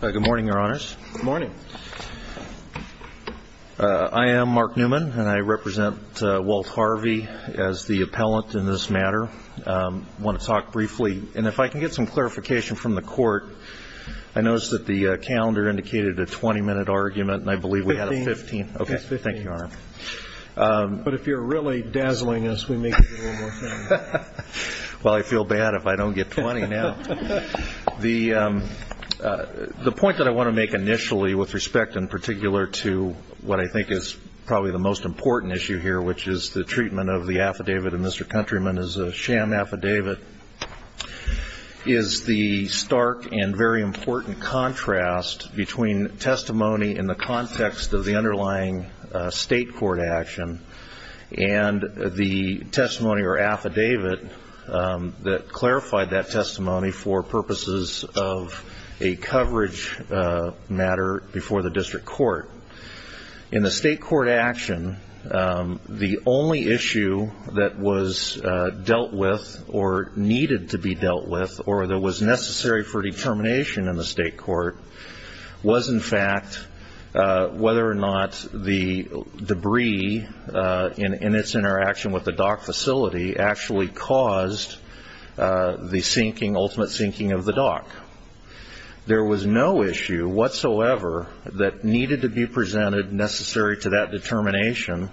Good morning, your honors. Good morning. I am Mark Newman, and I represent Walt Harvey as the appellant in this matter. I want to talk briefly, and if I can get some clarification from the court, I noticed that the calendar indicated a 20-minute argument, and I believe we had a 15. Okay, thank you, your honor. But if you're really dazzling us, we may give you a little more time. Well, I feel bad if I don't get 20 now. The point that I want to make initially with respect in particular to what I think is probably the most important issue here, which is the treatment of the affidavit of Mr. Countryman as a sham affidavit, is the stark and very important contrast between testimony in the context of the underlying state court action and the testimony or affidavit that clarified that testimony for purposes of a coverage matter before the district court. In the state court action, the only issue that was dealt with or needed to be dealt with or that was necessary for determination in the state court was, in fact, whether or not the debris in its interaction with the dock facility actually caused the sinking, ultimate sinking of the dock. There was no issue whatsoever that needed to be presented necessary to that determination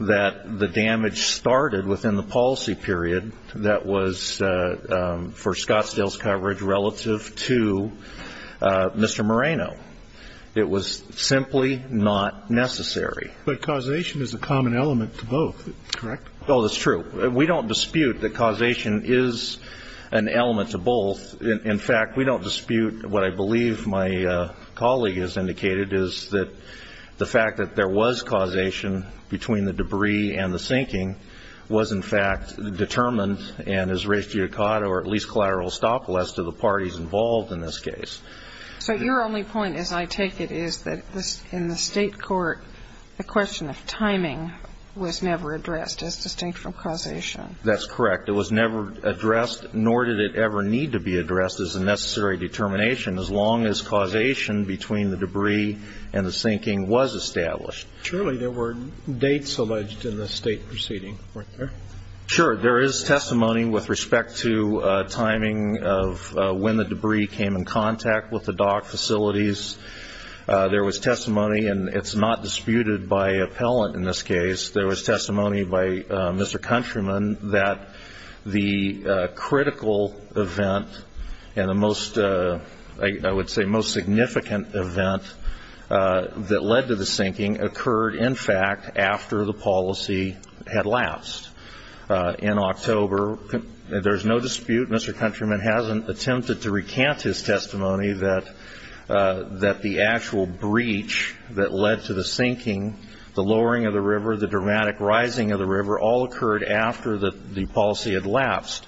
that the damage started within the policy period that was for Scottsdale's coverage relative to Mr. Moreno. It was simply not necessary. But causation is a common element to both, correct? Oh, that's true. We don't dispute that causation is an element to both. In fact, we don't dispute what I believe my colleague has indicated, is that the fact that there was causation between the debris and the sinking was, in fact, determined and has raised judicata or at least collateral estoppel as to the parties involved in this case. So your only point, as I take it, is that in the state court the question of timing was never addressed as distinct from causation. That's correct. It was never addressed, nor did it ever need to be addressed as a necessary determination as long as causation between the debris and the sinking was established. Surely there were dates alleged in the state proceeding, weren't there? Sure. There is testimony with respect to timing of when the debris came in contact with the dock facilities. There was testimony, and it's not disputed by appellant in this case. There was testimony by Mr. Countryman that the critical event and the most, I would say, the most significant event that led to the sinking occurred, in fact, after the policy had lapsed. In October, there's no dispute. Mr. Countryman hasn't attempted to recant his testimony that the actual breach that led to the sinking, the lowering of the river, the dramatic rising of the river, all occurred after the policy had lapsed.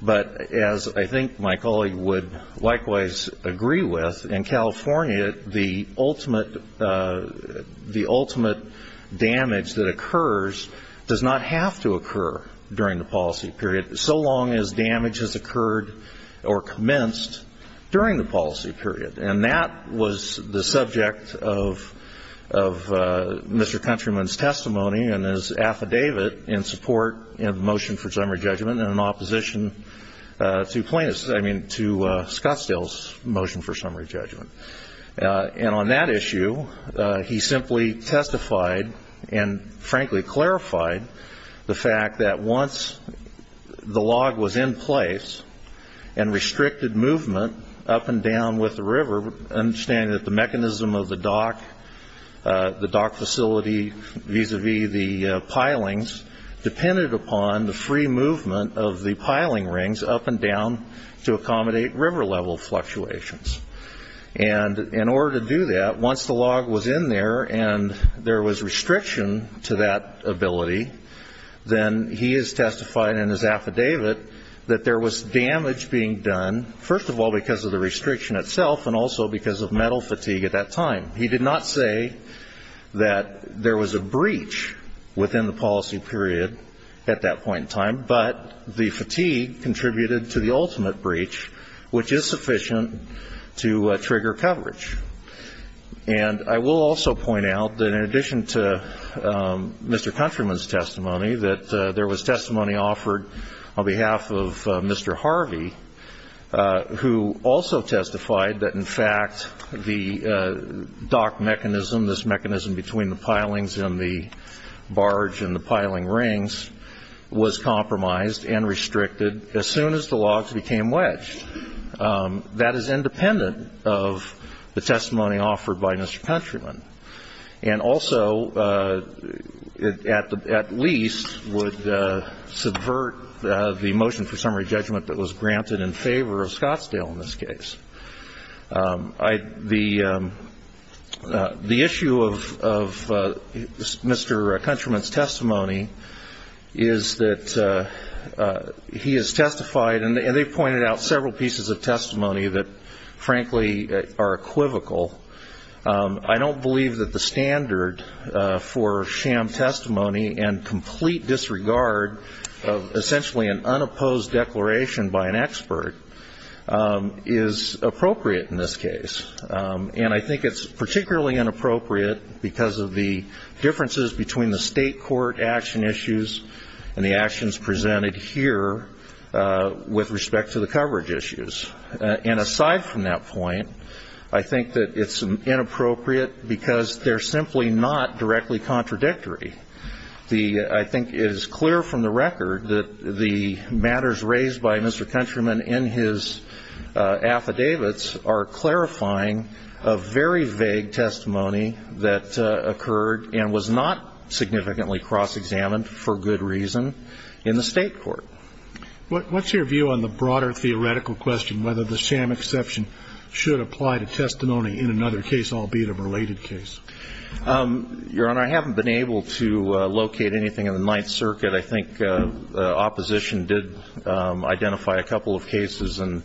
But as I think my colleague would likewise agree with, in California, the ultimate damage that occurs does not have to occur during the policy period, so long as damage has occurred or commenced during the policy period. And that was the subject of Mr. Countryman's testimony and his affidavit in support of the motion for summary judgment and in opposition to plaintiffs, I mean to Scottsdale's motion for summary judgment. And on that issue, he simply testified and, frankly, clarified the fact that once the log was in place and restricted movement up and down with the river, understanding that the mechanism of the dock, the dock facility vis-a-vis the pilings, depended upon the free movement of the piling rings up and down to accommodate river-level fluctuations. And in order to do that, once the log was in there and there was restriction to that ability, then he has testified in his affidavit that there was damage being done, first of all, because of the restriction itself and also because of metal fatigue at that time. He did not say that there was a breach within the policy period at that point in time, but the fatigue contributed to the ultimate breach, which is sufficient to trigger coverage. And I will also point out that in addition to Mr. Countryman's testimony, that there was testimony offered on behalf of Mr. Harvey, who also testified that, in fact, the dock mechanism, this mechanism between the pilings and the barge and the piling rings, was compromised and restricted as soon as the logs became wedged. That is independent of the testimony offered by Mr. Countryman. And also, at least, would subvert the motion for summary judgment that was granted in favor of Scottsdale in this case. The issue of Mr. Countryman's testimony is that he has testified, and they've pointed out several pieces of testimony that, frankly, are equivocal. I don't believe that the standard for sham testimony and complete disregard of essentially an unopposed declaration by an expert is appropriate in this case. And I think it's particularly inappropriate because of the differences between the state court action issues and the actions presented here with respect to the coverage issues. And aside from that point, I think that it's inappropriate because they're simply not directly contradictory. I think it is clear from the record that the matters raised by Mr. Countryman in his affidavits are clarifying a very vague testimony that occurred and was not significantly cross-examined for good reason in the state court. What's your view on the broader theoretical question, whether the sham exception should apply to testimony in another case, albeit a related case? Your Honor, I haven't been able to locate anything in the Ninth Circuit. I think the opposition did identify a couple of cases in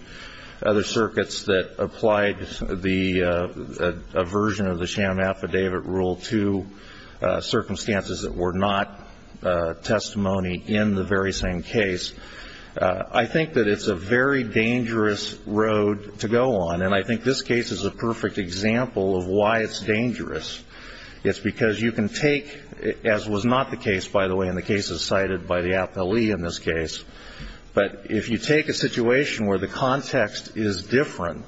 other circuits that applied a version of the sham affidavit rule to circumstances that were not testimony in the very same case. I think that it's a very dangerous road to go on, and I think this case is a perfect example of why it's dangerous. It's because you can take, as was not the case, by the way, in the cases cited by the appellee in this case, but if you take a situation where the context is different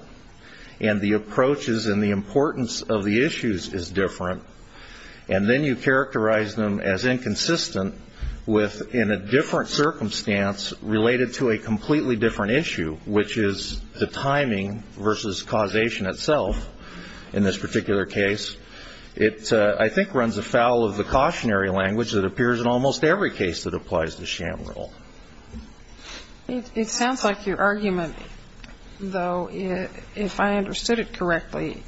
and the approaches and the importance of the issues is different, and then you characterize them as inconsistent with, in a different circumstance related to a completely different issue, which is the timing versus causation itself in this particular case, it I think runs afoul of the cautionary language that appears in almost every case that applies the sham rule. It sounds like your argument, though, if I understood it correctly,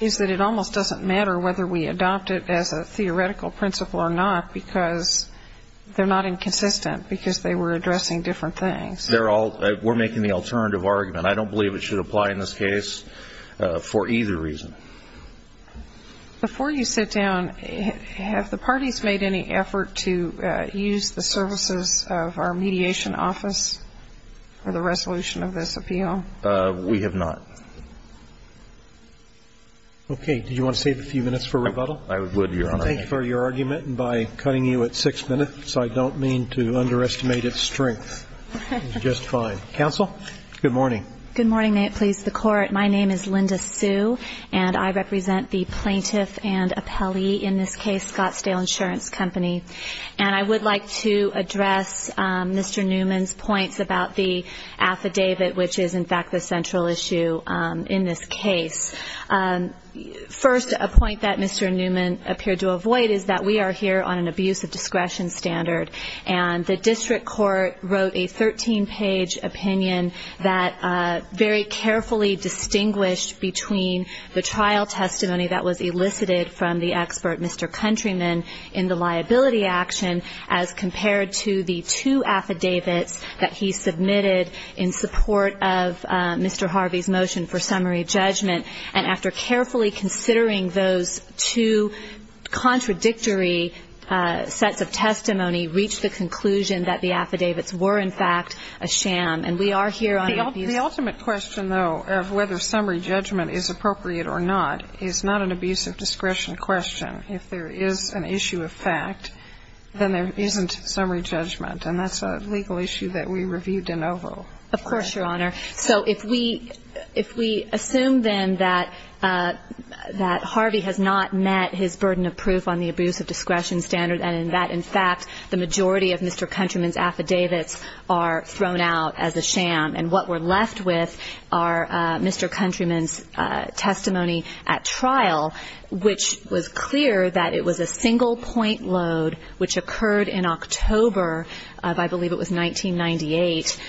is that it almost doesn't matter whether we adopt it as a theoretical principle or not because they're not inconsistent because they were addressing different things. We're making the alternative argument. I don't believe it should apply in this case for either reason. Before you sit down, have the parties made any effort to use the services of our mediation office for the resolution of this appeal? We have not. Okay. Did you want to save a few minutes for rebuttal? I would, Your Honor. Thank you for your argument, and by cutting you at six minutes, I don't mean to underestimate its strength. It's just fine. Counsel? Good morning. Good morning. May it please the Court. My name is Linda Sue, and I represent the plaintiff and appellee in this case, Scottsdale Insurance Company, and I would like to address Mr. Newman's points about the affidavit, which is, in fact, the central issue in this case. First, a point that Mr. Newman appeared to avoid is that we are here on an abuse of discretion standard, and the district court wrote a 13-page opinion that very carefully distinguished between the trial testimony that was elicited from the expert, Mr. Countryman, in the liability action as compared to the two affidavits that he submitted in support of Mr. Harvey's motion for summary judgment, and after carefully considering those two contradictory sets of testimony, reached the conclusion that the affidavits were, in fact, a sham, and we are here on abuse of discretion. The ultimate question, though, of whether summary judgment is appropriate or not is not an abuse of discretion question. If there is an issue of fact, then there isn't summary judgment, and that's a legal issue that we reviewed in Oval. Of course, Your Honor. So if we assume, then, that Harvey has not met his burden of proof on the abuse of discretion standard, and that, in fact, the majority of Mr. Countryman's affidavits are thrown out as a sham, and what we're left with are Mr. Countryman's testimony at trial, which was clear that it was a single point load, which occurred in October of, I believe it was 1998,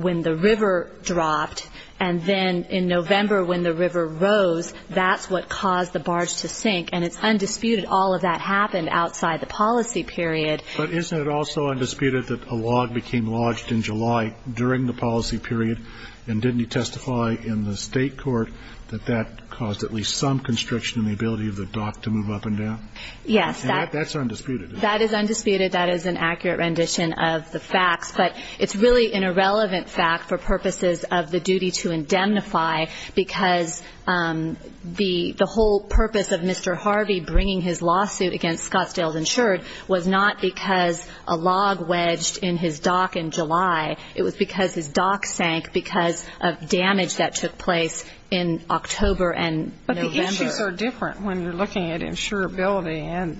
when the river dropped, and then in November when the river rose, that's what caused the barge to sink, and it's undisputed all of that happened outside the policy period. But isn't it also undisputed that a log became lodged in July during the policy period, and didn't he testify in the state court that that caused at least some constriction in the ability of the dock to move up and down? Yes. And that's undisputed. That is undisputed. That is an accurate rendition of the facts. But it's really an irrelevant fact for purposes of the duty to indemnify, because the whole purpose of Mr. Harvey bringing his lawsuit against Scottsdale's Insured was not because a log wedged in his dock in July. It was because his dock sank because of damage that took place in October and November. But the issues are different when you're looking at insurability.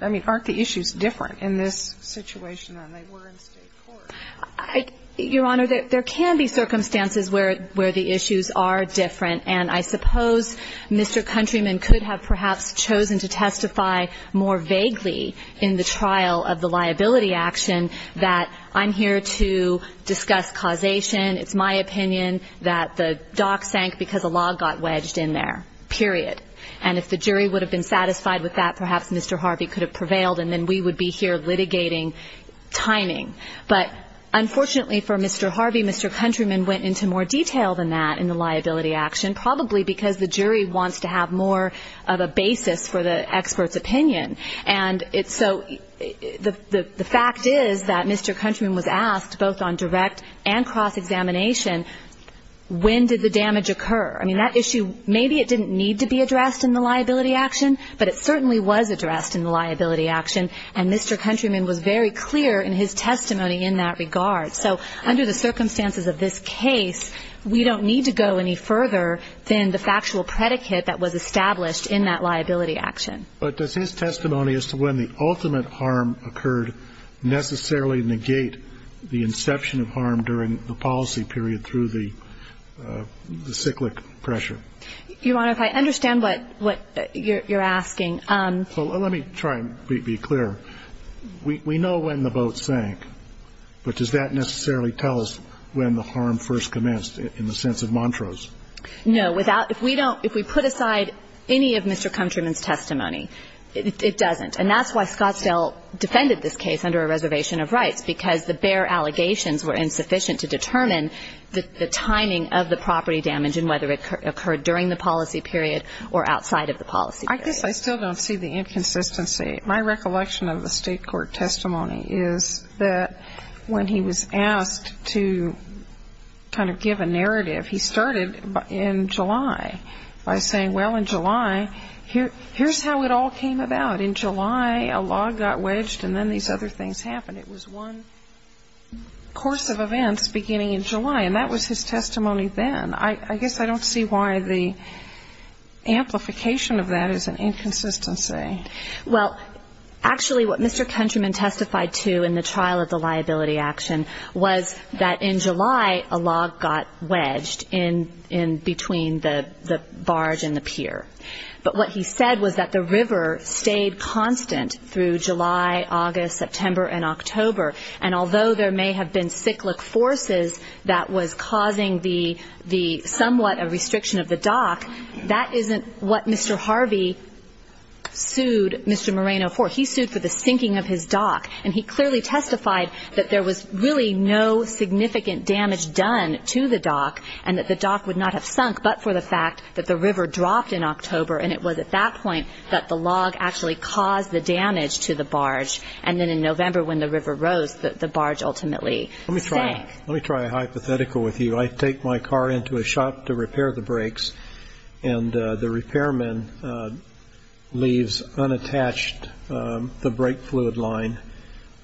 I mean, aren't the issues different in this situation than they were in state court? Your Honor, there can be circumstances where the issues are different, and I suppose Mr. Countryman could have perhaps chosen to testify more vaguely in the trial of the liability action that I'm here to discuss causation. It's my opinion that the dock sank because a log got wedged in there, period. And if the jury would have been satisfied with that, perhaps Mr. Harvey could have prevailed and then we would be here litigating timing. But unfortunately for Mr. Harvey, Mr. Countryman went into more detail than that in the liability action, probably because the jury wants to have more of a basis for the expert's opinion. And so the fact is that Mr. Countryman was asked both on direct and cross-examination when did the damage occur. I mean, that issue, maybe it didn't need to be addressed in the liability action, but it certainly was addressed in the liability action, and Mr. Countryman was very clear in his testimony in that regard. So under the circumstances of this case, we don't need to go any further than the factual predicate that was established in that liability action. But does his testimony as to when the ultimate harm occurred necessarily negate the inception of harm during the policy period through the cyclic pressure? Your Honor, if I understand what you're asking. Let me try and be clear. We know when the boat sank, but does that necessarily tell us when the harm first commenced in the sense of Montrose? No. If we put aside any of Mr. Countryman's testimony, it doesn't. And that's why Scottsdale defended this case under a reservation of rights, because the bare allegations were insufficient to determine the timing of the property damage and whether it occurred during the policy period or outside of the policy period. I guess I still don't see the inconsistency. My recollection of the State court testimony is that when he was asked to kind of give a narrative, he started in July by saying, well, in July, here's how it all came about. In July, a log got wedged and then these other things happened. It was one course of events beginning in July. And that was his testimony then. I guess I don't see why the amplification of that is an inconsistency. Well, actually, what Mr. Countryman testified to in the trial of the liability action was that in July, a log got wedged in between the barge and the pier. But what he said was that the river stayed constant through July, August, September, and October. And although there may have been cyclic forces that was causing the somewhat a restriction of the dock, that isn't what Mr. Harvey sued Mr. Moreno for. He sued for the sinking of his dock. And he clearly testified that there was really no significant damage done to the dock and that the dock would not have sunk but for the fact that the river dropped in October. And it was at that point that the log actually caused the damage to the barge. And then in November, when the river rose, the barge ultimately sank. Let me try a hypothetical with you. I take my car into a shop to repair the brakes, and the repairman leaves unattached the brake fluid line.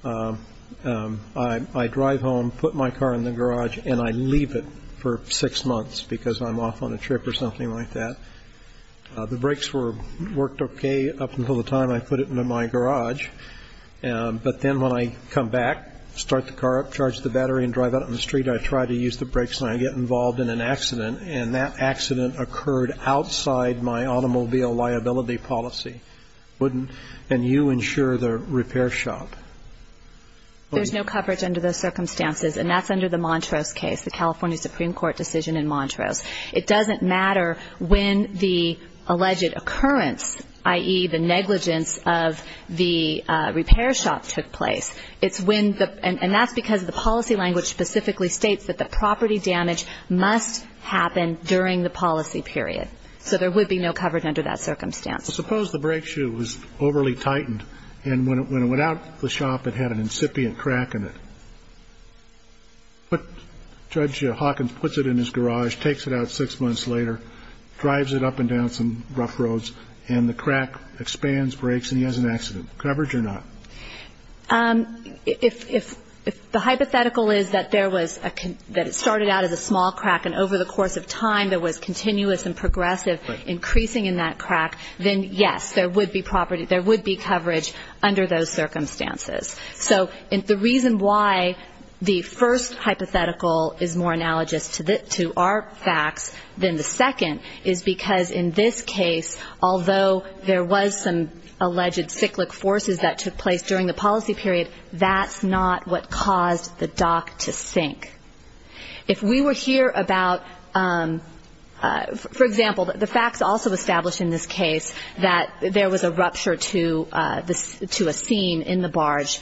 I drive home, put my car in the garage, and I leave it for six months because I'm off on a trip or something like that. The brakes worked okay up until the time I put it into my garage. But then when I come back, start the car up, charge the battery, and drive out on the street, I try to use the brakes and I get involved in an accident. And that accident occurred outside my automobile liability policy. And you insure the repair shop. There's no coverage under those circumstances, and that's under the Montrose case, the California Supreme Court decision in Montrose. It doesn't matter when the alleged occurrence, i.e., the negligence of the repair shop took place. And that's because the policy language specifically states that the property damage must happen during the policy period. So there would be no coverage under that circumstance. Suppose the brake shoe was overly tightened, and when it went out the shop, it had an incipient crack in it. Judge Hawkins puts it in his garage, takes it out six months later, drives it up and down some rough roads, and the crack expands, breaks, and he has an accident. Coverage or not? If the hypothetical is that there was a ‑‑ that it started out as a small crack, and over the course of time there was continuous and progressive increasing in that crack, then yes, there would be coverage under those circumstances. So the reason why the first hypothetical is more analogous to our facts than the second is because in this case, although there was some alleged cyclic forces that took place during the policy period, if we were here about, for example, the facts also establish in this case that there was a rupture to a seam in the barge,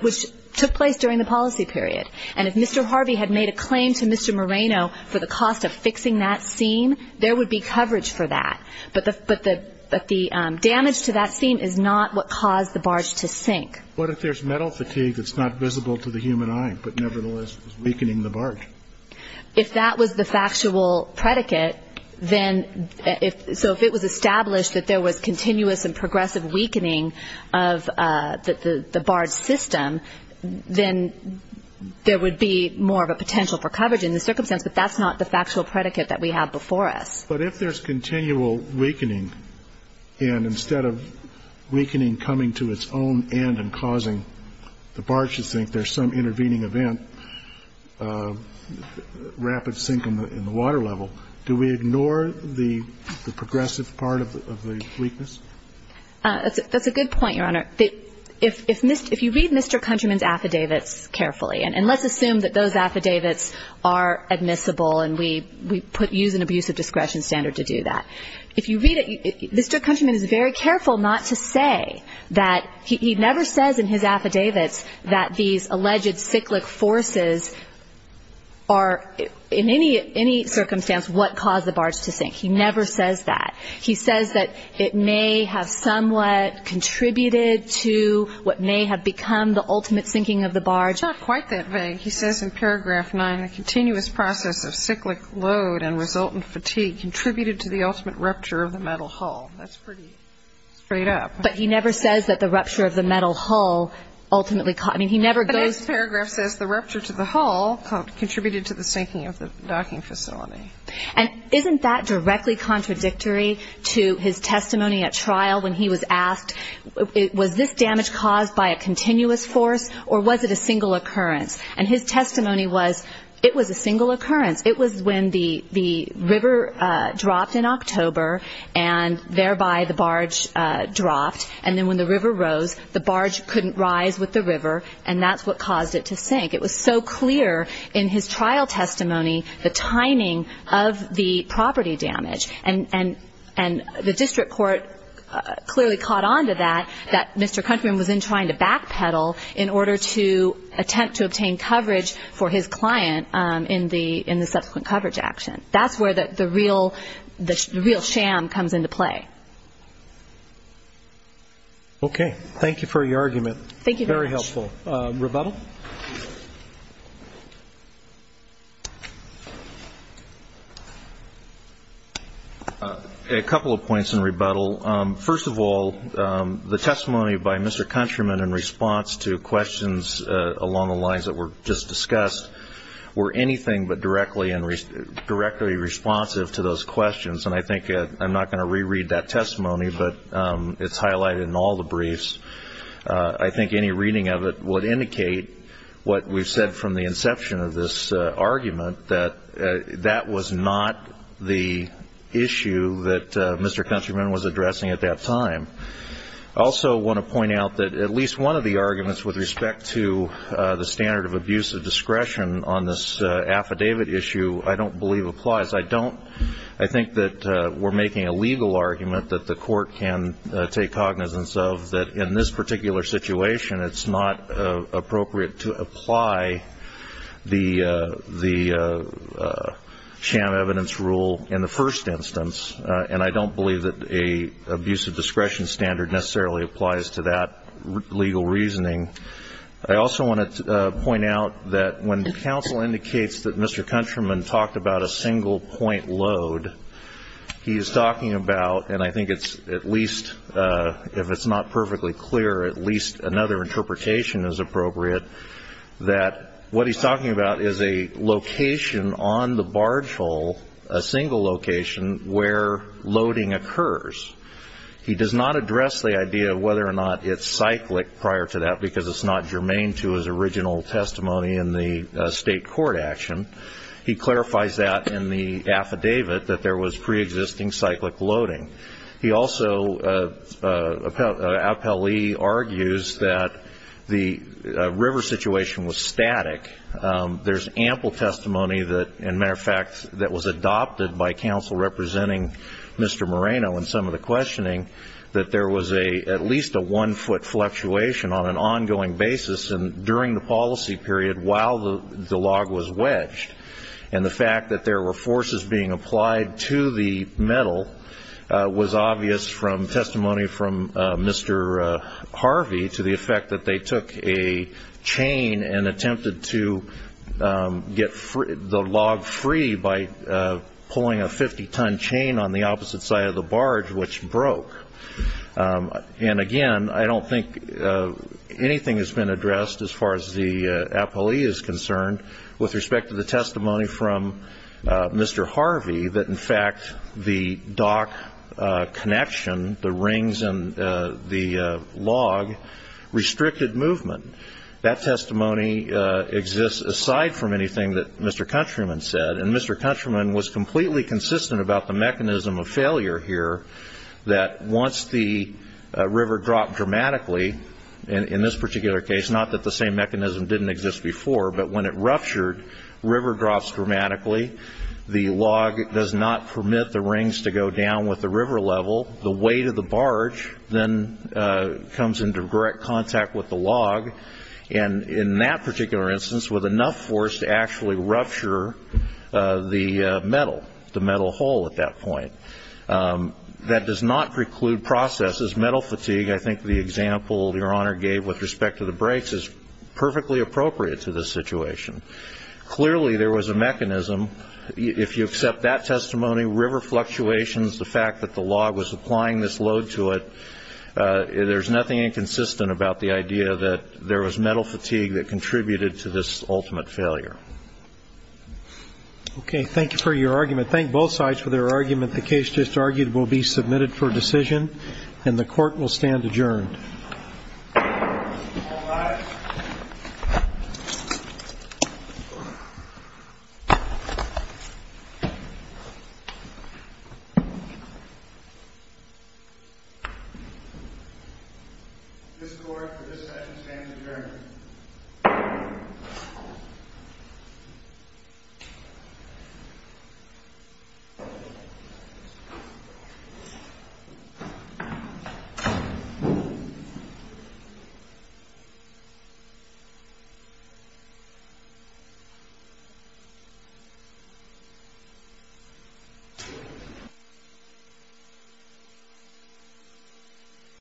which took place during the policy period. And if Mr. Harvey had made a claim to Mr. Moreno for the cost of fixing that seam, there would be coverage for that. But the damage to that seam is not what caused the barge to sink. What if there's metal fatigue that's not visible to the human eye, but nevertheless is weakening the barge? If that was the factual predicate, then if ‑‑ so if it was established that there was continuous and progressive weakening of the barge system, then there would be more of a potential for coverage in the circumstance, but that's not the factual predicate that we have before us. But if there's continual weakening, and instead of weakening coming to its own end and causing the barge to sink, there's some intervening event, rapid sink in the water level, do we ignore the progressive part of the weakness? That's a good point, Your Honor. If you read Mr. Countryman's affidavits carefully, and let's assume that those affidavits are admissible and we use an abusive discretion standard to do that. If you read it, Mr. Countryman is very careful not to say that he never says in his affidavits that these alleged cyclic forces are in any circumstance what caused the barge to sink. He never says that. He says that it may have somewhat contributed to what may have become the ultimate sinking of the barge. It's not quite that vague. He says in paragraph 9, the continuous process of cyclic load and resultant fatigue contributed to the ultimate rupture of the metal hull. That's pretty straight up. But he never says that the rupture of the metal hull ultimately caused the sinking of the docking facility. And isn't that directly contradictory to his testimony at trial when he was asked, was this damage caused by a continuous force or was it a single occurrence? And his testimony was it was a single occurrence. It was when the river dropped in October and thereby the barge dropped, and then when the river rose, the barge couldn't rise with the river, and that's what caused it to sink. It was so clear in his trial testimony the timing of the property damage. And the district court clearly caught on to that, that Mr. Countryman was in trying to backpedal in order to attempt to obtain coverage for his client in the subsequent coverage action. That's where the real sham comes into play. Okay. Thank you for your argument. Thank you very much. Very helpful. Rebuttal? A couple of points in rebuttal. First of all, the testimony by Mr. Countryman in response to questions along the lines that were just discussed were anything but directly responsive to those questions, and I think I'm not going to reread that testimony, but it's highlighted in all the briefs. I think any reading of it would indicate what we've said from the inception of this argument, that that was not the issue that Mr. Countryman was addressing at that time. I also want to point out that at least one of the arguments with respect to the standard of abuse of discretion on this affidavit issue I don't believe applies. I think that we're making a legal argument that the court can take cognizance of, that in this particular situation it's not appropriate to apply the sham evidence rule in the first instance, and I don't believe that an abuse of discretion standard necessarily applies to that legal reasoning. I also want to point out that when counsel indicates that Mr. Countryman talked about a single-point load, he is talking about, and I think it's at least, if it's not perfectly clear, at least another interpretation is appropriate, that what he's talking about is a location on the barge hull, a single location, where loading occurs. He does not address the idea of whether or not it's cyclic prior to that, because it's not germane to his original testimony in the state court action. He clarifies that in the affidavit, that there was preexisting cyclic loading. He also, appellee argues, that the river situation was static. There's ample testimony that, in matter of fact, that was adopted by counsel representing Mr. Moreno in some of the questioning, that there was at least a one-foot fluctuation on an ongoing basis during the policy period while the log was wedged. And the fact that there were forces being applied to the metal was obvious from testimony from Mr. Harvey to the effect that they took a chain and attempted to get the log free by pulling a 50-ton chain on the opposite side of the barge, which broke. And, again, I don't think anything has been addressed as far as the appellee is concerned with respect to the testimony from Mr. Harvey, that, in fact, the dock connection, the rings and the log, restricted movement. That testimony exists aside from anything that Mr. Countryman said. And Mr. Countryman was completely consistent about the mechanism of failure here, that once the river dropped dramatically, in this particular case, not that the same mechanism didn't exist before, but when it ruptured, river drops dramatically, the log does not permit the rings to go down with the river level, the weight of the barge then comes into direct contact with the log, and in that particular instance with enough force to actually rupture the metal, the metal hole at that point. That does not preclude processes. Metal fatigue, I think the example Your Honor gave with respect to the brakes, is perfectly appropriate to this situation. Clearly there was a mechanism. If you accept that testimony, river fluctuations, the fact that the log was applying this load to it, there's nothing inconsistent about the idea that there was metal fatigue that contributed to this ultimate failure. Okay. Thank you for your argument. Thank both sides for their argument. The case just argued will be submitted for decision, and the Court will stand adjourned. All rise. This Court for this session stands adjourned. The Court is adjourned.